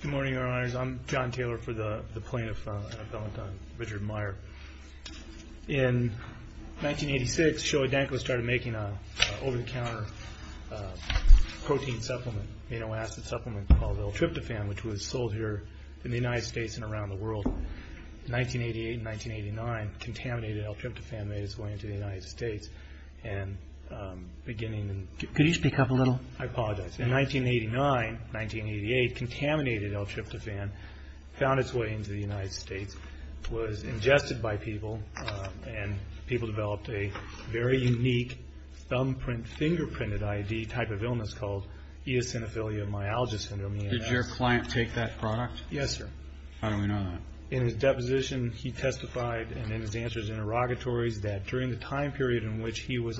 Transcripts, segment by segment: Good morning, Your Honors. I'm John Taylor for the Plaintiff and Appellant on Richard Meyer. In 1986, Shoei Denko started making an over-the-counter protein supplement, amino acid supplement called L-tryptophan, which was sold here in the United States and around the world. In 1988 and 1989, contaminated L-tryptophan made its way into the United States and beginning in... Could you speak up a little? I apologize. In 1989, 1988, contaminated L-tryptophan found its way into the United States, was ingested by people, and people developed a very unique thumbprint, fingerprinted ID type of illness called eosinophilia myalgia syndrome. Did your client take that product? Yes, sir. How do we know that? In his deposition, he testified, and in his answers in interrogatories, that during the time period in which he was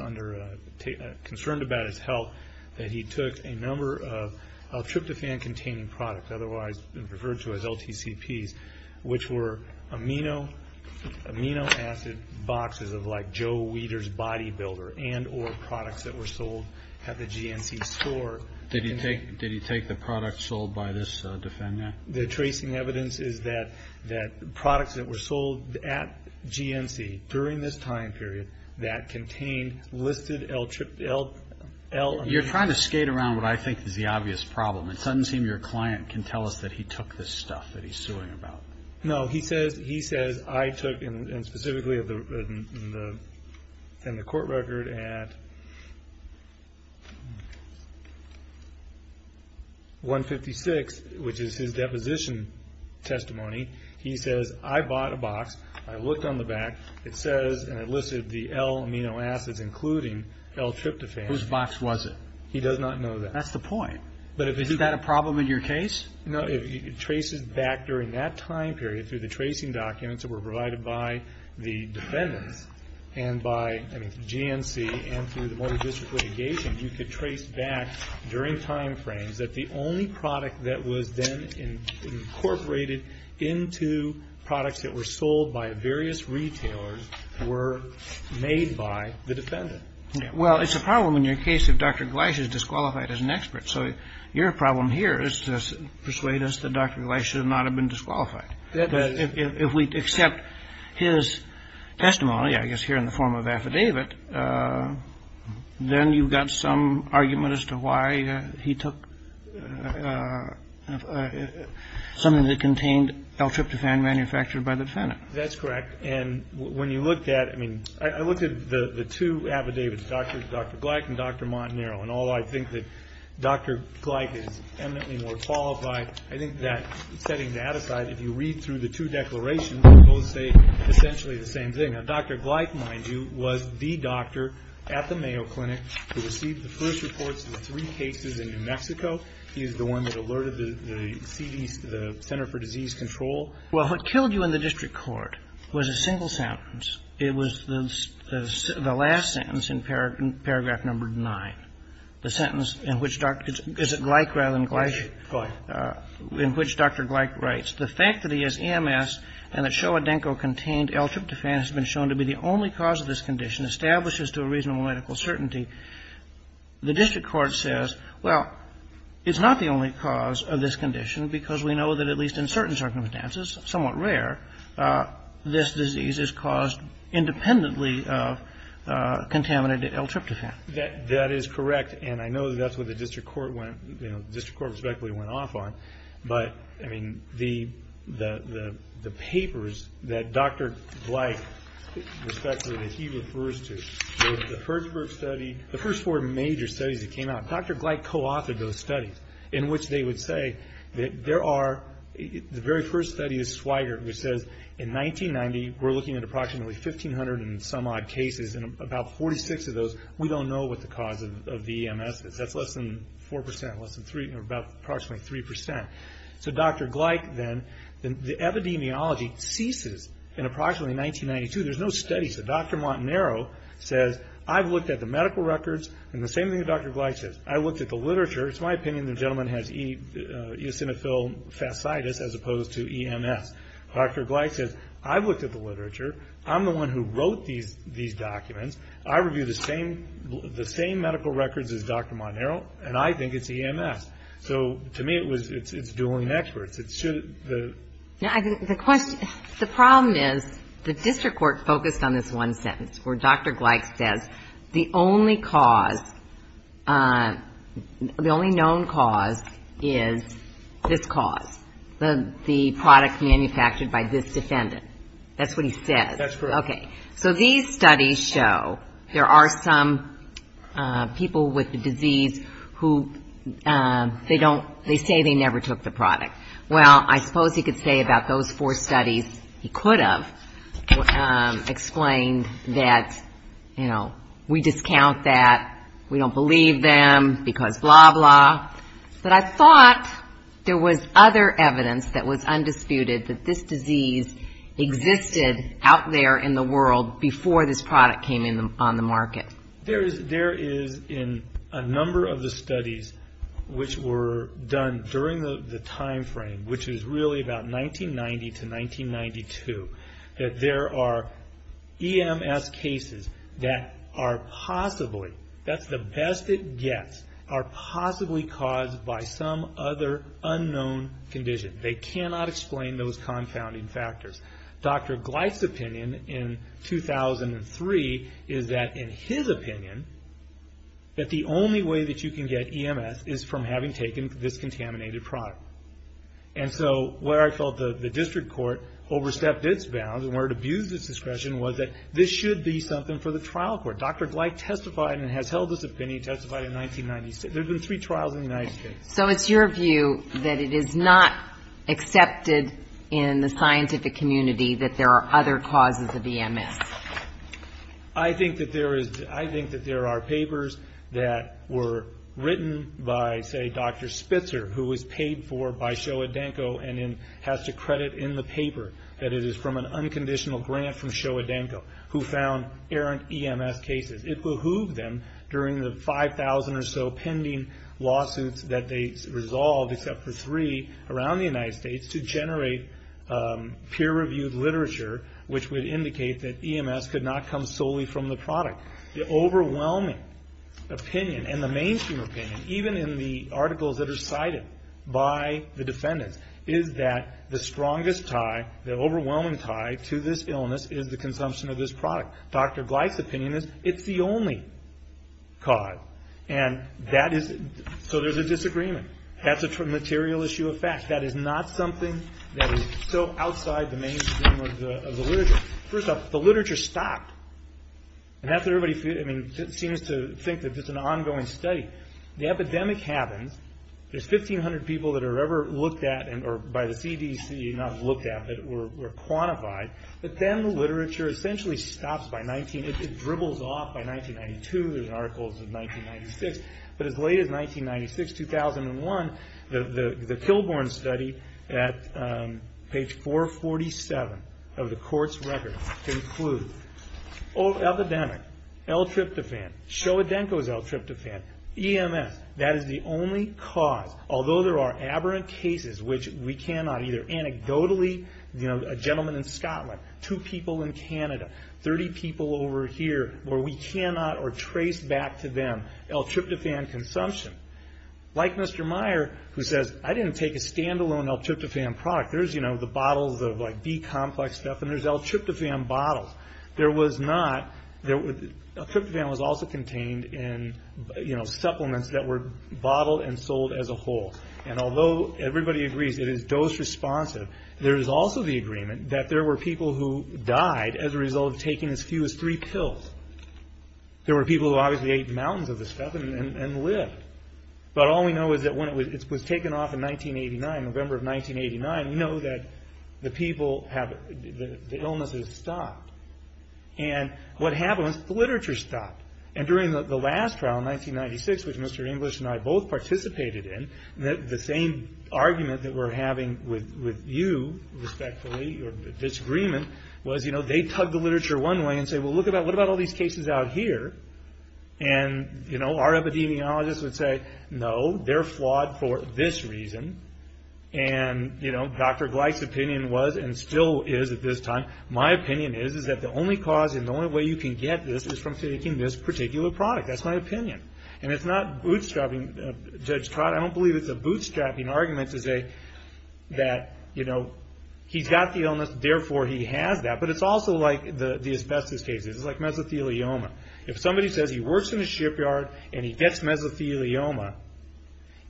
concerned about his health, that he took a number of L-tryptophan-containing products, otherwise referred to as LTCPs, which were amino acid boxes of like Joe Weider's Body Builder and or products that were sold at the GNC store. Did he take the products sold by this defendant? The tracing evidence is that products that were sold at GNC during this time period that contained listed L-tryptophan... You're trying to skate around what I think is the obvious problem. It doesn't seem your client can tell us that he took this stuff that he's suing about. No, he says I took, and specifically in the court record at 156, which is his deposition testimony, he says I bought a box, I looked on the back, it says, and I listed the L-amino acids including L-tryptophan. Whose box was it? He does not know that. That's the point. Is that a problem in your case? No. It traces back during that time period through the tracing documents that were provided by the defendants and by GNC and through the motor district litigation, you could trace back during time frames that the only product that was then incorporated into products that were sold by various retailers were made by the defendant. Well, it's a problem in your case if Dr. Gleich is disqualified as an expert. So your problem here is to persuade us that Dr. Gleich should not have been disqualified. If we accept his testimony, I guess here in the form of affidavit, then you've got some argument as to why he took something that contained L-tryptophan manufactured by the defendant. That's correct. And when you looked at, I mean, I looked at the two affidavits, Dr. Gleich and Dr. Montanaro, and although I think that Dr. Gleich is eminently more qualified, I think that setting that aside, if you read through the two declarations, they both say essentially the same thing. Now, Dr. Gleich, mind you, was the doctor at the Mayo Clinic who received the first reports of the three cases in New Mexico. He is the one that alerted the CDC, the Center for Disease Control. Well, what killed you in the district court was a single sentence. It was the last sentence in paragraph number 9, the sentence in which Dr. — is it Gleich rather than Gleich? Gleich. In which Dr. Gleich writes, The fact that he has EMS and that Showa Denko contained L-tryptophan has been shown to be the only cause of this condition establishes to a reasonable medical certainty. The district court says, well, it's not the only cause of this condition because we know that at least in certain circumstances, somewhat rare, this disease is caused independently of contaminated L-tryptophan. That is correct. And I know that's what the district court went, you know, the district court respectively went off on. But, I mean, the papers that Dr. Gleich respectively, that he refers to, the first group study, the first four major studies that came out, Dr. Gleich co-authored those studies in which they would say that there are, the very first study is Schweiger, which says in 1990, we're looking at approximately 1,500 and some odd cases and about 46 of those, we don't know what the cause of the EMS is. That's less than 4%, less than 3, or about approximately 3%. So Dr. Gleich then, the epidemiology ceases in approximately 1992. There's no study. So Dr. Montanaro says, I've looked at the medical records, and the same thing that Dr. Gleich says. I looked at the literature. It's my opinion the gentleman has eosinophil fasciitis as opposed to EMS. Dr. Gleich says, I've looked at the literature. I'm the one who wrote these documents. I review the same medical records as Dr. Montanaro, and I think it's EMS. So, to me, it's dueling experts. The question, the problem is the district court focused on this one sentence where Dr. Gleich says, the only cause, the only known cause is this cause, the product manufactured by this defendant. That's what he says. That's correct. Okay. So these studies show there are some people with the disease who they don't, they say they never took the product. Well, I suppose he could say about those four studies he could have explained that, you know, we discount that, we don't believe them because blah, blah. But I thought there was other evidence that was undisputed that this disease existed out there in the world before this product came on the market. There is in a number of the studies which were done during the time frame, which is really about 1990 to 1992, that there are EMS cases that are possibly, that's the best it gets, are possibly caused by some other unknown condition. They cannot explain those confounding factors. Dr. Gleich's opinion in 2003 is that, in his opinion, that the only way that you can get EMS is from having taken this contaminated product. And so where I felt the district court overstepped its bounds and where it abused its discretion was that this should be something for the trial court. Dr. Gleich testified and has held this opinion, testified in 1996. There have been three trials in the United States. So it's your view that it is not accepted in the scientific community that there are other causes of EMS? I think that there is, I think that there are papers that were written by, say, Dr. Spitzer, who was paid for by Showa Denko and has to credit in the paper that it is from an unconditional grant from Showa Denko who found errant EMS cases. It behooved them during the 5,000 or so pending lawsuits that they resolved, except for three around the United States, to generate peer-reviewed literature which would indicate that EMS could not come solely from the product. The overwhelming opinion and the mainstream opinion, even in the articles that are cited by the defendants, is that the strongest tie, the overwhelming tie, to this illness is the consumption of this product. Dr. Gleich's opinion is it's the only cause. And that is, so there's a disagreement. That's a material issue of fact. That is not something that is so outside the mainstream of the literature. First off, the literature stopped. And that's what everybody, I mean, seems to think that this is an ongoing study. The epidemic happens. There's 1,500 people that are ever looked at, or by the CDC, not looked at, but were quantified. But then the literature essentially stops by 19, it dribbles off by 1992. There's articles of 1996. But as late as 1996, 2001, the Kilbourn study at page 447 of the court's record, conclude, epidemic, L-tryptophan, Showa Denko's L-tryptophan, EMS, that is the only cause. Although there are aberrant cases which we cannot either anecdotally, you know, a gentleman in Scotland, two people in Canada, 30 people over here, where we cannot or trace back to them L-tryptophan consumption. Like Mr. Meyer, who says, I didn't take a standalone L-tryptophan product. There's, you know, the bottles of like B-complex stuff, and there's L-tryptophan bottles. There was not, L-tryptophan was also contained in, you know, supplements that were bottled and sold as a whole. And although everybody agrees it is dose responsive, there is also the agreement that there were people who died as a result of taking as few as three pills. There were people who obviously ate mountains of this stuff and lived. But all we know is that when it was taken off in 1989, November of 1989, we know that the people have, the illnesses stopped. And what happened was the literature stopped. And during the last trial in 1996, which Mr. English and I both participated in, the same argument that we're having with you, respectfully, or disagreement, was, you know, they tug the literature one way and say, well, look at that. What about all these cases out here? And, you know, our epidemiologists would say, no, they're flawed for this reason. And, you know, Dr. Gleick's opinion was, and still is at this time, my opinion is that the only cause and the only way you can get this is from taking this particular product. That's my opinion. And it's not bootstrapping Judge Trott. I don't believe it's a bootstrapping argument to say that, you know, he's got the illness, therefore he has that. But it's also like the asbestos cases. It's like mesothelioma. If somebody says he works in a shipyard and he gets mesothelioma,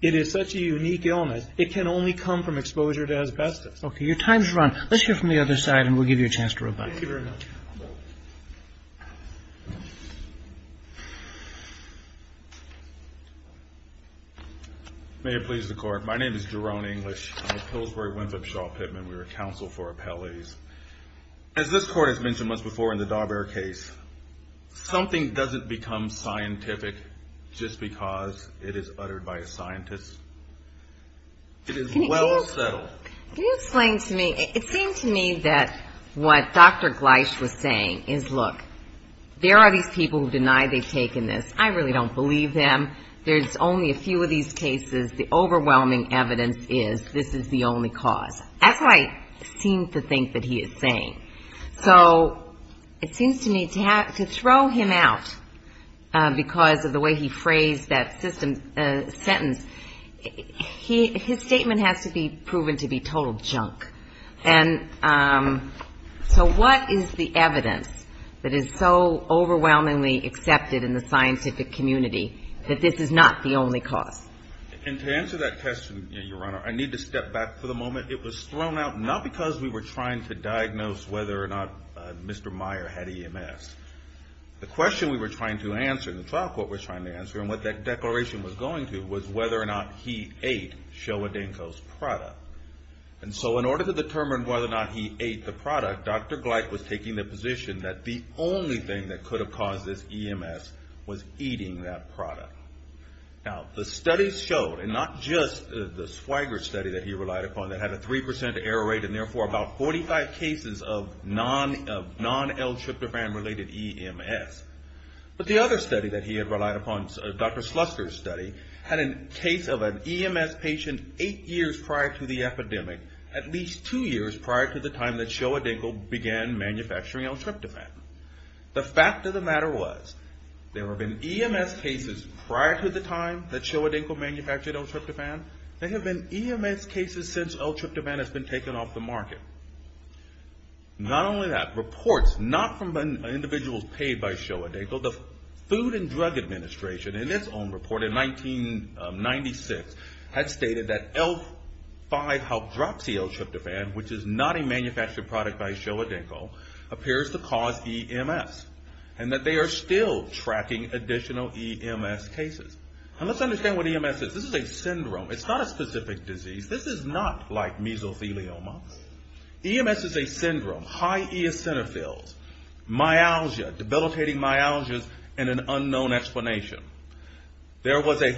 it is such a unique illness, it can only come from exposure to asbestos. Okay. Your time has run. Let's hear from the other side and we'll give you a chance to rebut. Thank you very much. May it please the Court. My name is Jerome English. I'm with Pillsbury Winthrop Shaw Pittman. We're a counsel for appellees. As this Court has mentioned once before in the Darber case, something doesn't become scientific just because it is uttered by a scientist. It is well settled. Can you explain to me, it seemed to me that what Dr. Gleich was saying is, look, there are these people who deny they've taken this. I really don't believe them. There's only a few of these cases. The overwhelming evidence is this is the only cause. That's what I seem to think that he is saying. So it seems to me to throw him out because of the way he phrased that sentence, his statement has to be proven to be total junk. And so what is the evidence that is so overwhelmingly accepted in the scientific community that this is not the only cause? And to answer that question, Your Honor, I need to step back for the moment. It was thrown out not because we were trying to diagnose whether or not Mr. Meyer had EMS. The question we were trying to answer, the trial court was trying to answer, and what that declaration was going to was whether or not he ate Showa Denko's product. And so in order to determine whether or not he ate the product, Dr. Gleich was taking the position that the only thing that could be proven to be true was that he ate Showa Denko's product. Now, the studies showed, and not just the Swigert study that he relied upon that had a 3% error rate and therefore about 45 cases of non-L-tryptophan related EMS. But the other study that he had relied upon, Dr. Sluster's study, had a case of an EMS patient eight years prior to the epidemic, at least two years prior to the time that Showa Denko began manufacturing L-tryptophan. The fact of the matter was, there have been EMS cases prior to the time that Showa Denko manufactured L-tryptophan. There have been EMS cases since L-tryptophan has been taken off the market. Not only that, reports not from individuals paid by Showa Denko, the Food and Drug Administration in its own report in 1996 had stated that L-5-half-droxyl-tryptophan, which is not a manufactured product by Showa Denko, appears to cause a EMS, and that they are still tracking additional EMS cases. And let's understand what EMS is. This is a syndrome. It's not a specific disease. This is not like mesothelioma. EMS is a syndrome, high eosinophils, myalgia, debilitating myalgias, and an unknown explanation. There was a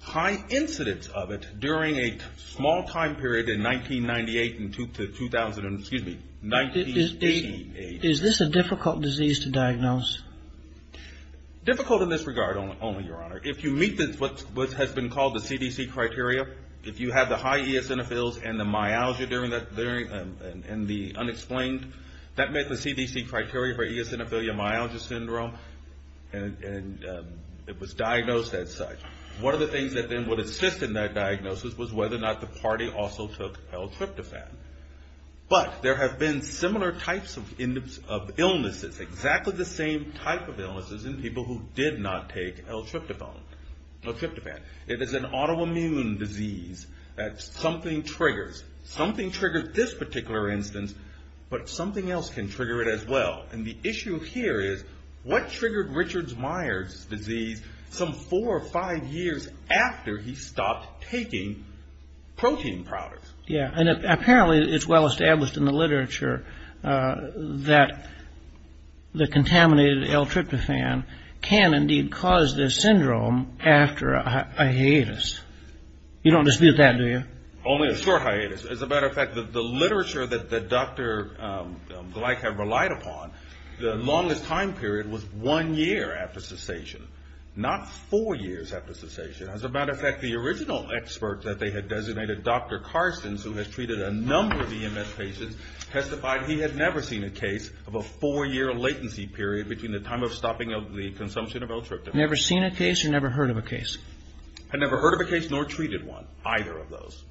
high incidence of it during a small time period in 1998 and 2000, excuse me, 1980. Is this a difficult disease to diagnose? Difficult in this regard only, Your Honor. If you meet what has been called the CDC criteria, if you have the high eosinophils and the myalgia during that, and the unexplained, that met the CDC criteria for eosinophilia myalgia syndrome, and it was diagnosed as such. One of the things that then would assist in that diagnosis was whether or not the party also took L-tryptophan. But there have been similar types of illnesses, exactly the same type of illnesses in people who did not take L-tryptophan. It is an autoimmune disease that something triggers. Something triggered this particular instance, but something else can trigger it as well. And the issue here is, what triggered Richard Myers' disease some four or five years after he stopped taking protein products? Yeah, and apparently it's well established in the literature that the contaminated L-tryptophan can indeed cause this syndrome. After a hiatus. You don't dispute that, do you? Only a short hiatus. As a matter of fact, the literature that Dr. Gleich had relied upon, the longest time period was one year after cessation. Not four years after cessation. As a matter of fact, the original expert that they had designated, Dr. Carstens, who has treated a number of EMS patients, testified he had never seen a case of a four-year latency period between the time of stopping of the consumption of L-tryptophan. Never seen a case or never heard of a case? Had never heard of a case, nor treated one, either of those.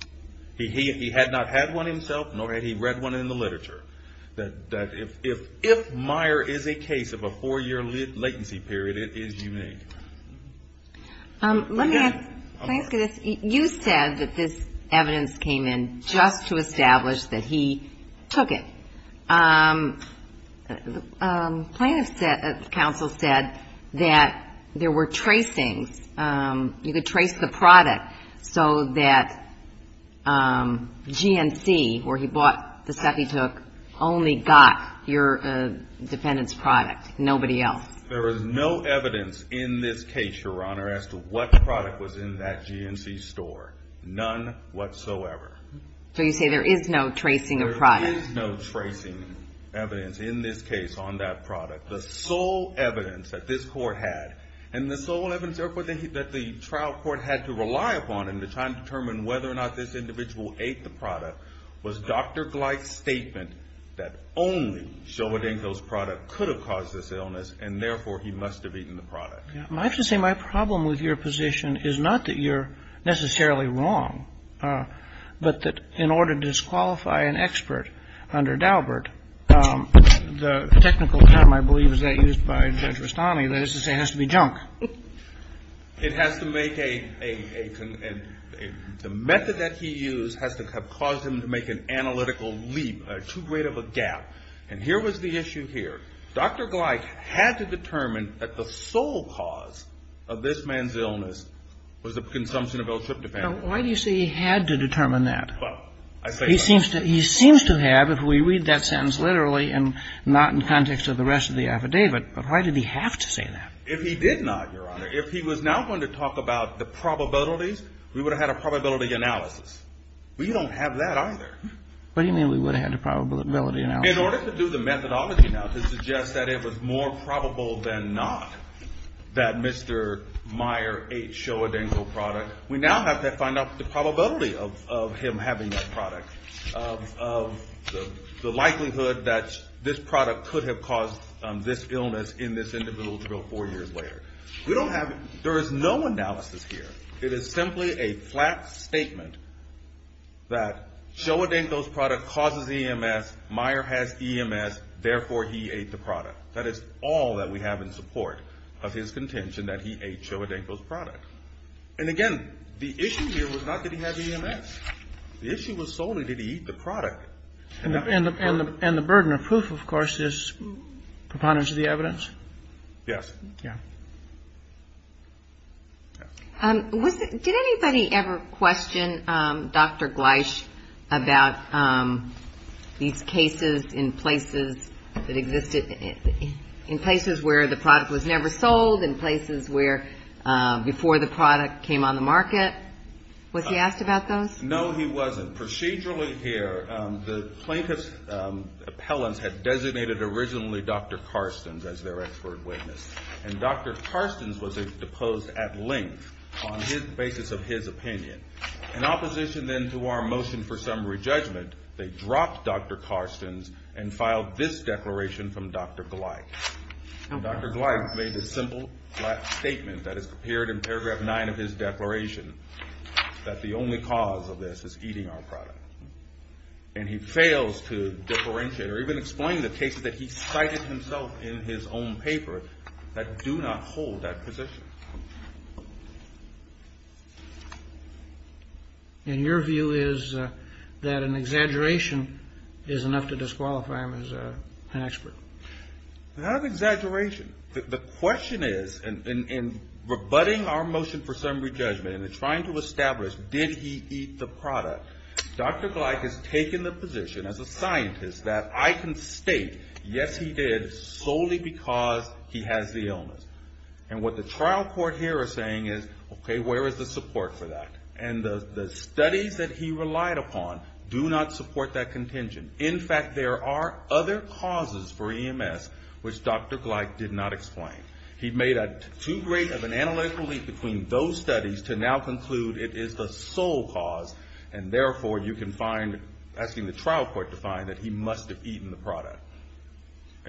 He had not had one himself, nor had he read one in the literature. That if Meyer is a case of a four-year latency period, it is unique. Let me ask, you said that this evidence came in just to establish that he took it. The plaintiff's counsel said that there were tracings. You could trace the product so that GNC, where he bought the stuff he took, only got your defendant's product. Nobody else. There is no evidence in this case, Your Honor, as to what product was in that GNC store. None whatsoever. So you say there is no tracing of product. There is no tracing evidence in this case on that product. The sole evidence that this court had, and the sole evidence that the trial court had to rely upon in the time to determine whether or not this individual ate the product, was Dr. Gleick's statement that only Shobodanko's product could have caused this illness, and therefore, he must have eaten the product. I have to say, my problem with your position is not that you're necessarily wrong. But that in order to disqualify an expert under Daubert, the technical term, I believe, is that used by Judge Rustami, that is to say it has to be junk. It has to make a, the method that he used has to have caused him to make an analytical leap, too great of a gap. And here was the issue here. Dr. Gleick had to determine that the sole cause of this man's illness was the consumption of L-tryptophan. Now, why do you say he had to determine that? He seems to have if we read that sentence literally and not in context of the rest of the affidavit. But why did he have to say that? If he did not, Your Honor, if he was now going to talk about the probabilities, we would have had a probability analysis. We don't have that either. What do you mean we would have had a probability analysis? In order to do the methodology now, to suggest that it was more probable than not that Mr. Meyer ate Showa Denko's product, we now have to find out the probability of him having that product, of the likelihood that this product could have caused this illness in this individual until four years later. We don't have, there is no analysis here. It is simply a flat statement that Showa Denko's product causes EMS, Meyer has EMS, therefore he ate the product. That is all that we have in support of his contention that he ate Showa Denko's product. And again, the issue here was not that he had EMS. The issue was solely did he eat the product. And the burden of proof, of course, is preponderance of the evidence? Yes. Did anybody ever question Dr. Gleich about these cases in places that existed, in places where the product was never sold, in places where before the product came on the market? Was he asked about those? No, he wasn't. Procedurally here, the plaintiff's appellants had designated originally Dr. Carstens as their expert witness. And Dr. Carstens was deposed at length on the basis of his opinion. In opposition then to our motion for summary judgment, they dropped Dr. Carstens and filed this declaration from Dr. Gleich. Dr. Gleich made a simple flat statement that is appeared in paragraph nine of his declaration, that the only cause of this is eating our product. And he fails to differentiate or even explain the cases that he cited himself in his own paper that do not hold that position. And your view is that an exaggeration is enough to disqualify him as an expert? Not an exaggeration. The question is, in rebutting our motion for summary judgment and trying to establish, did he eat the product? Dr. Gleich has taken the position as a scientist that I can state, yes he did, solely because he has the illness. And what the trial court here is saying is, okay, where is the support for that? And the studies that he relied upon do not support that contention. In fact, there are other causes for EMS which Dr. Gleich did not explain. He made too great of an analytical leap between those studies to now conclude it is the sole cause, and therefore you can find, asking the trial court to find that he must have eaten the product.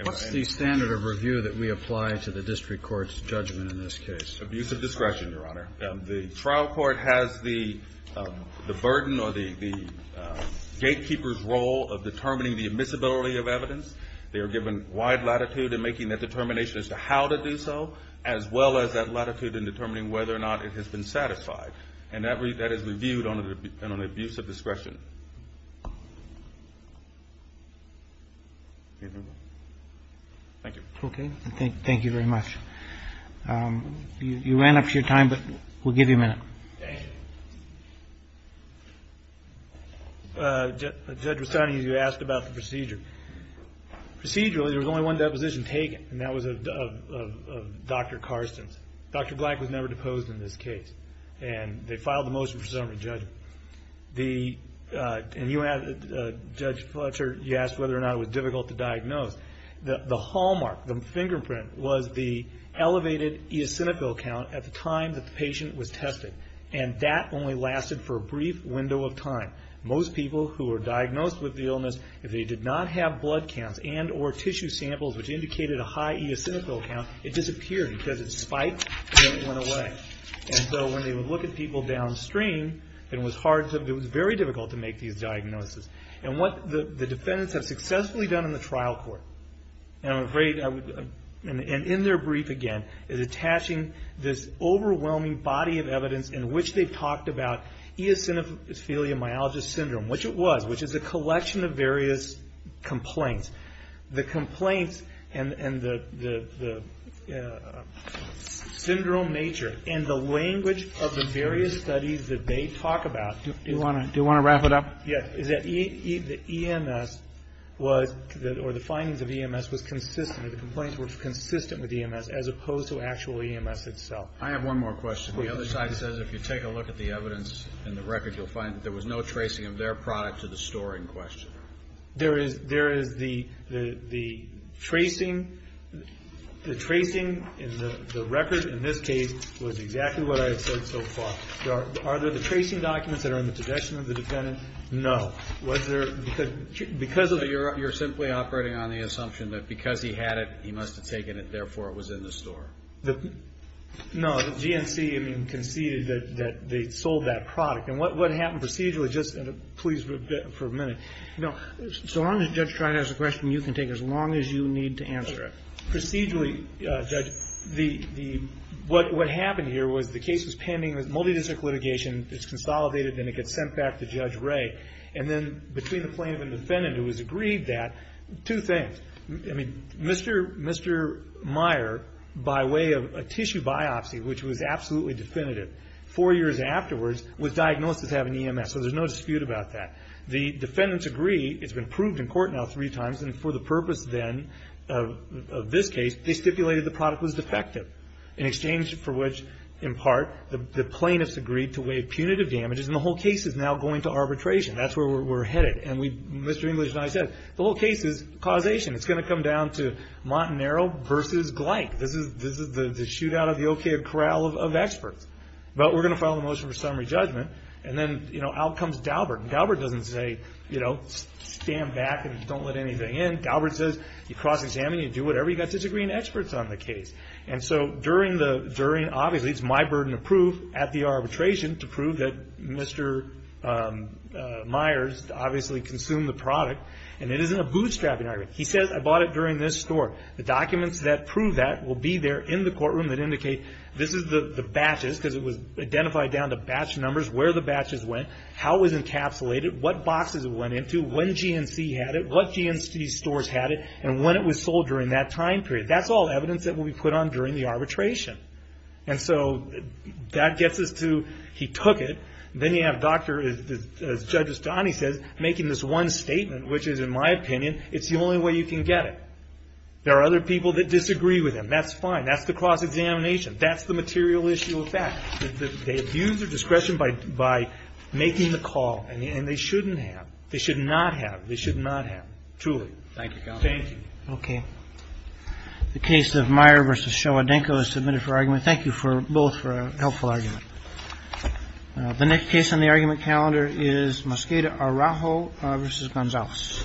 What's the standard of review that we apply to the district court's judgment in this case? Abuse of discretion, Your Honor. The trial court has the burden or the gatekeeper's role of determining the admissibility of evidence. They are given wide latitude in making that determination as to how to do so, as well as that latitude in determining whether or not it has been satisfied. And that is reviewed on an abuse of discretion. Thank you. Okay, thank you very much. You ran up to your time, but we'll give you a minute. Thank you. Judge Rossani, you asked about the procedure. Procedurally, there was only one deposition taken, and that was of Dr. Carstens. Dr. Black was never deposed in this case, and they filed the motion for summary judgment. And Judge Fletcher, you asked whether or not it was difficult to diagnose. The hallmark, the fingerprint, was the elevated eosinophil count at the time that the patient was tested, and that only lasted for a brief window of time. Most people who were diagnosed with the illness, if they did not have blood counts and or tissue samples which indicated a high eosinophil count, it disappeared because it spiked and it went away. And so when they would look at people downstream, it was very difficult to make these diagnoses. And what the defendants have successfully done in the trial court, and in their brief again, is attaching this overwhelming body of evidence in which they've talked about eosinophilia myalgia syndrome, which it was, which is a collection of various complaints. The complaints and the syndrome nature and the language of the various studies that they talk about. Do you want to wrap it up? Yes. The EMS was, or the findings of EMS was consistent. The complaints were consistent with EMS as opposed to actual EMS itself. I have one more question. The other side says if you take a look at the evidence in the record, you'll find that there was no tracing of their product to the store in question. There is the tracing in the record in this case was exactly what I have said so far. Are there the tracing documents that are in the possession of the defendant? No. You're simply operating on the assumption that because he had it, he must have taken it, therefore it was in the store. No. The GNC conceded that they sold that product. And what happened procedurally, just please for a minute, so long as Judge Trott has a question, you can take as long as you need to answer it. Procedurally, Judge, what happened here was the case was pending with multidistrict litigation. It's consolidated, and it gets sent back to Judge Ray. And then between the plaintiff and defendant, it was agreed that two things. Mr. Meyer, by way of a tissue biopsy, which was absolutely definitive, four years afterwards was diagnosed as having EMS, so there's no dispute about that. The defendants agree, it's been proved in court now three times, and for the purpose then of this case, they stipulated the product was defective, in exchange for which, in part, the plaintiffs agreed to waive punitive damages, and the whole case is now going to arbitration. That's where we're headed. And Mr. English and I said, the whole case is causation. It's going to come down to Montanaro versus Gleick. This is the shootout of the O.K. Corral of experts. But we're going to file a motion for summary judgment, and then out comes Daubert. And Daubert doesn't say, you know, stand back and don't let anything in. Daubert says, you cross-examine, you do whatever you've got to do to bring in experts on the case. And so, obviously, it's my burden of proof at the arbitration to prove that Mr. Myers obviously consumed the product, and it isn't a bootstrapping argument. He says, I bought it during this store. The documents that prove that will be there in the courtroom that indicate this is the batches, because it was identified down to batch numbers, where the batches went, how it was encapsulated, what boxes it went into, when GNC had it, what GNC stores had it, and when it was sold during that time period. That's all evidence that will be put on during the arbitration. And so, that gets us to, he took it. Then you have Dr., as Judge Estani says, making this one statement, which is, in my opinion, it's the only way you can get it. There are other people that disagree with him. That's fine. That's the cross-examination. That's the material issue of fact. They abuse their discretion by making the call, and they shouldn't have. They should not have. They should not have. Truly. Thank you, Counsel. Thank you. Okay. The case of Meyer v. Showadenko is submitted for argument. Thank you both for a helpful argument. The next case on the argument calendar is Mosqueda Araujo v. Gonzalez.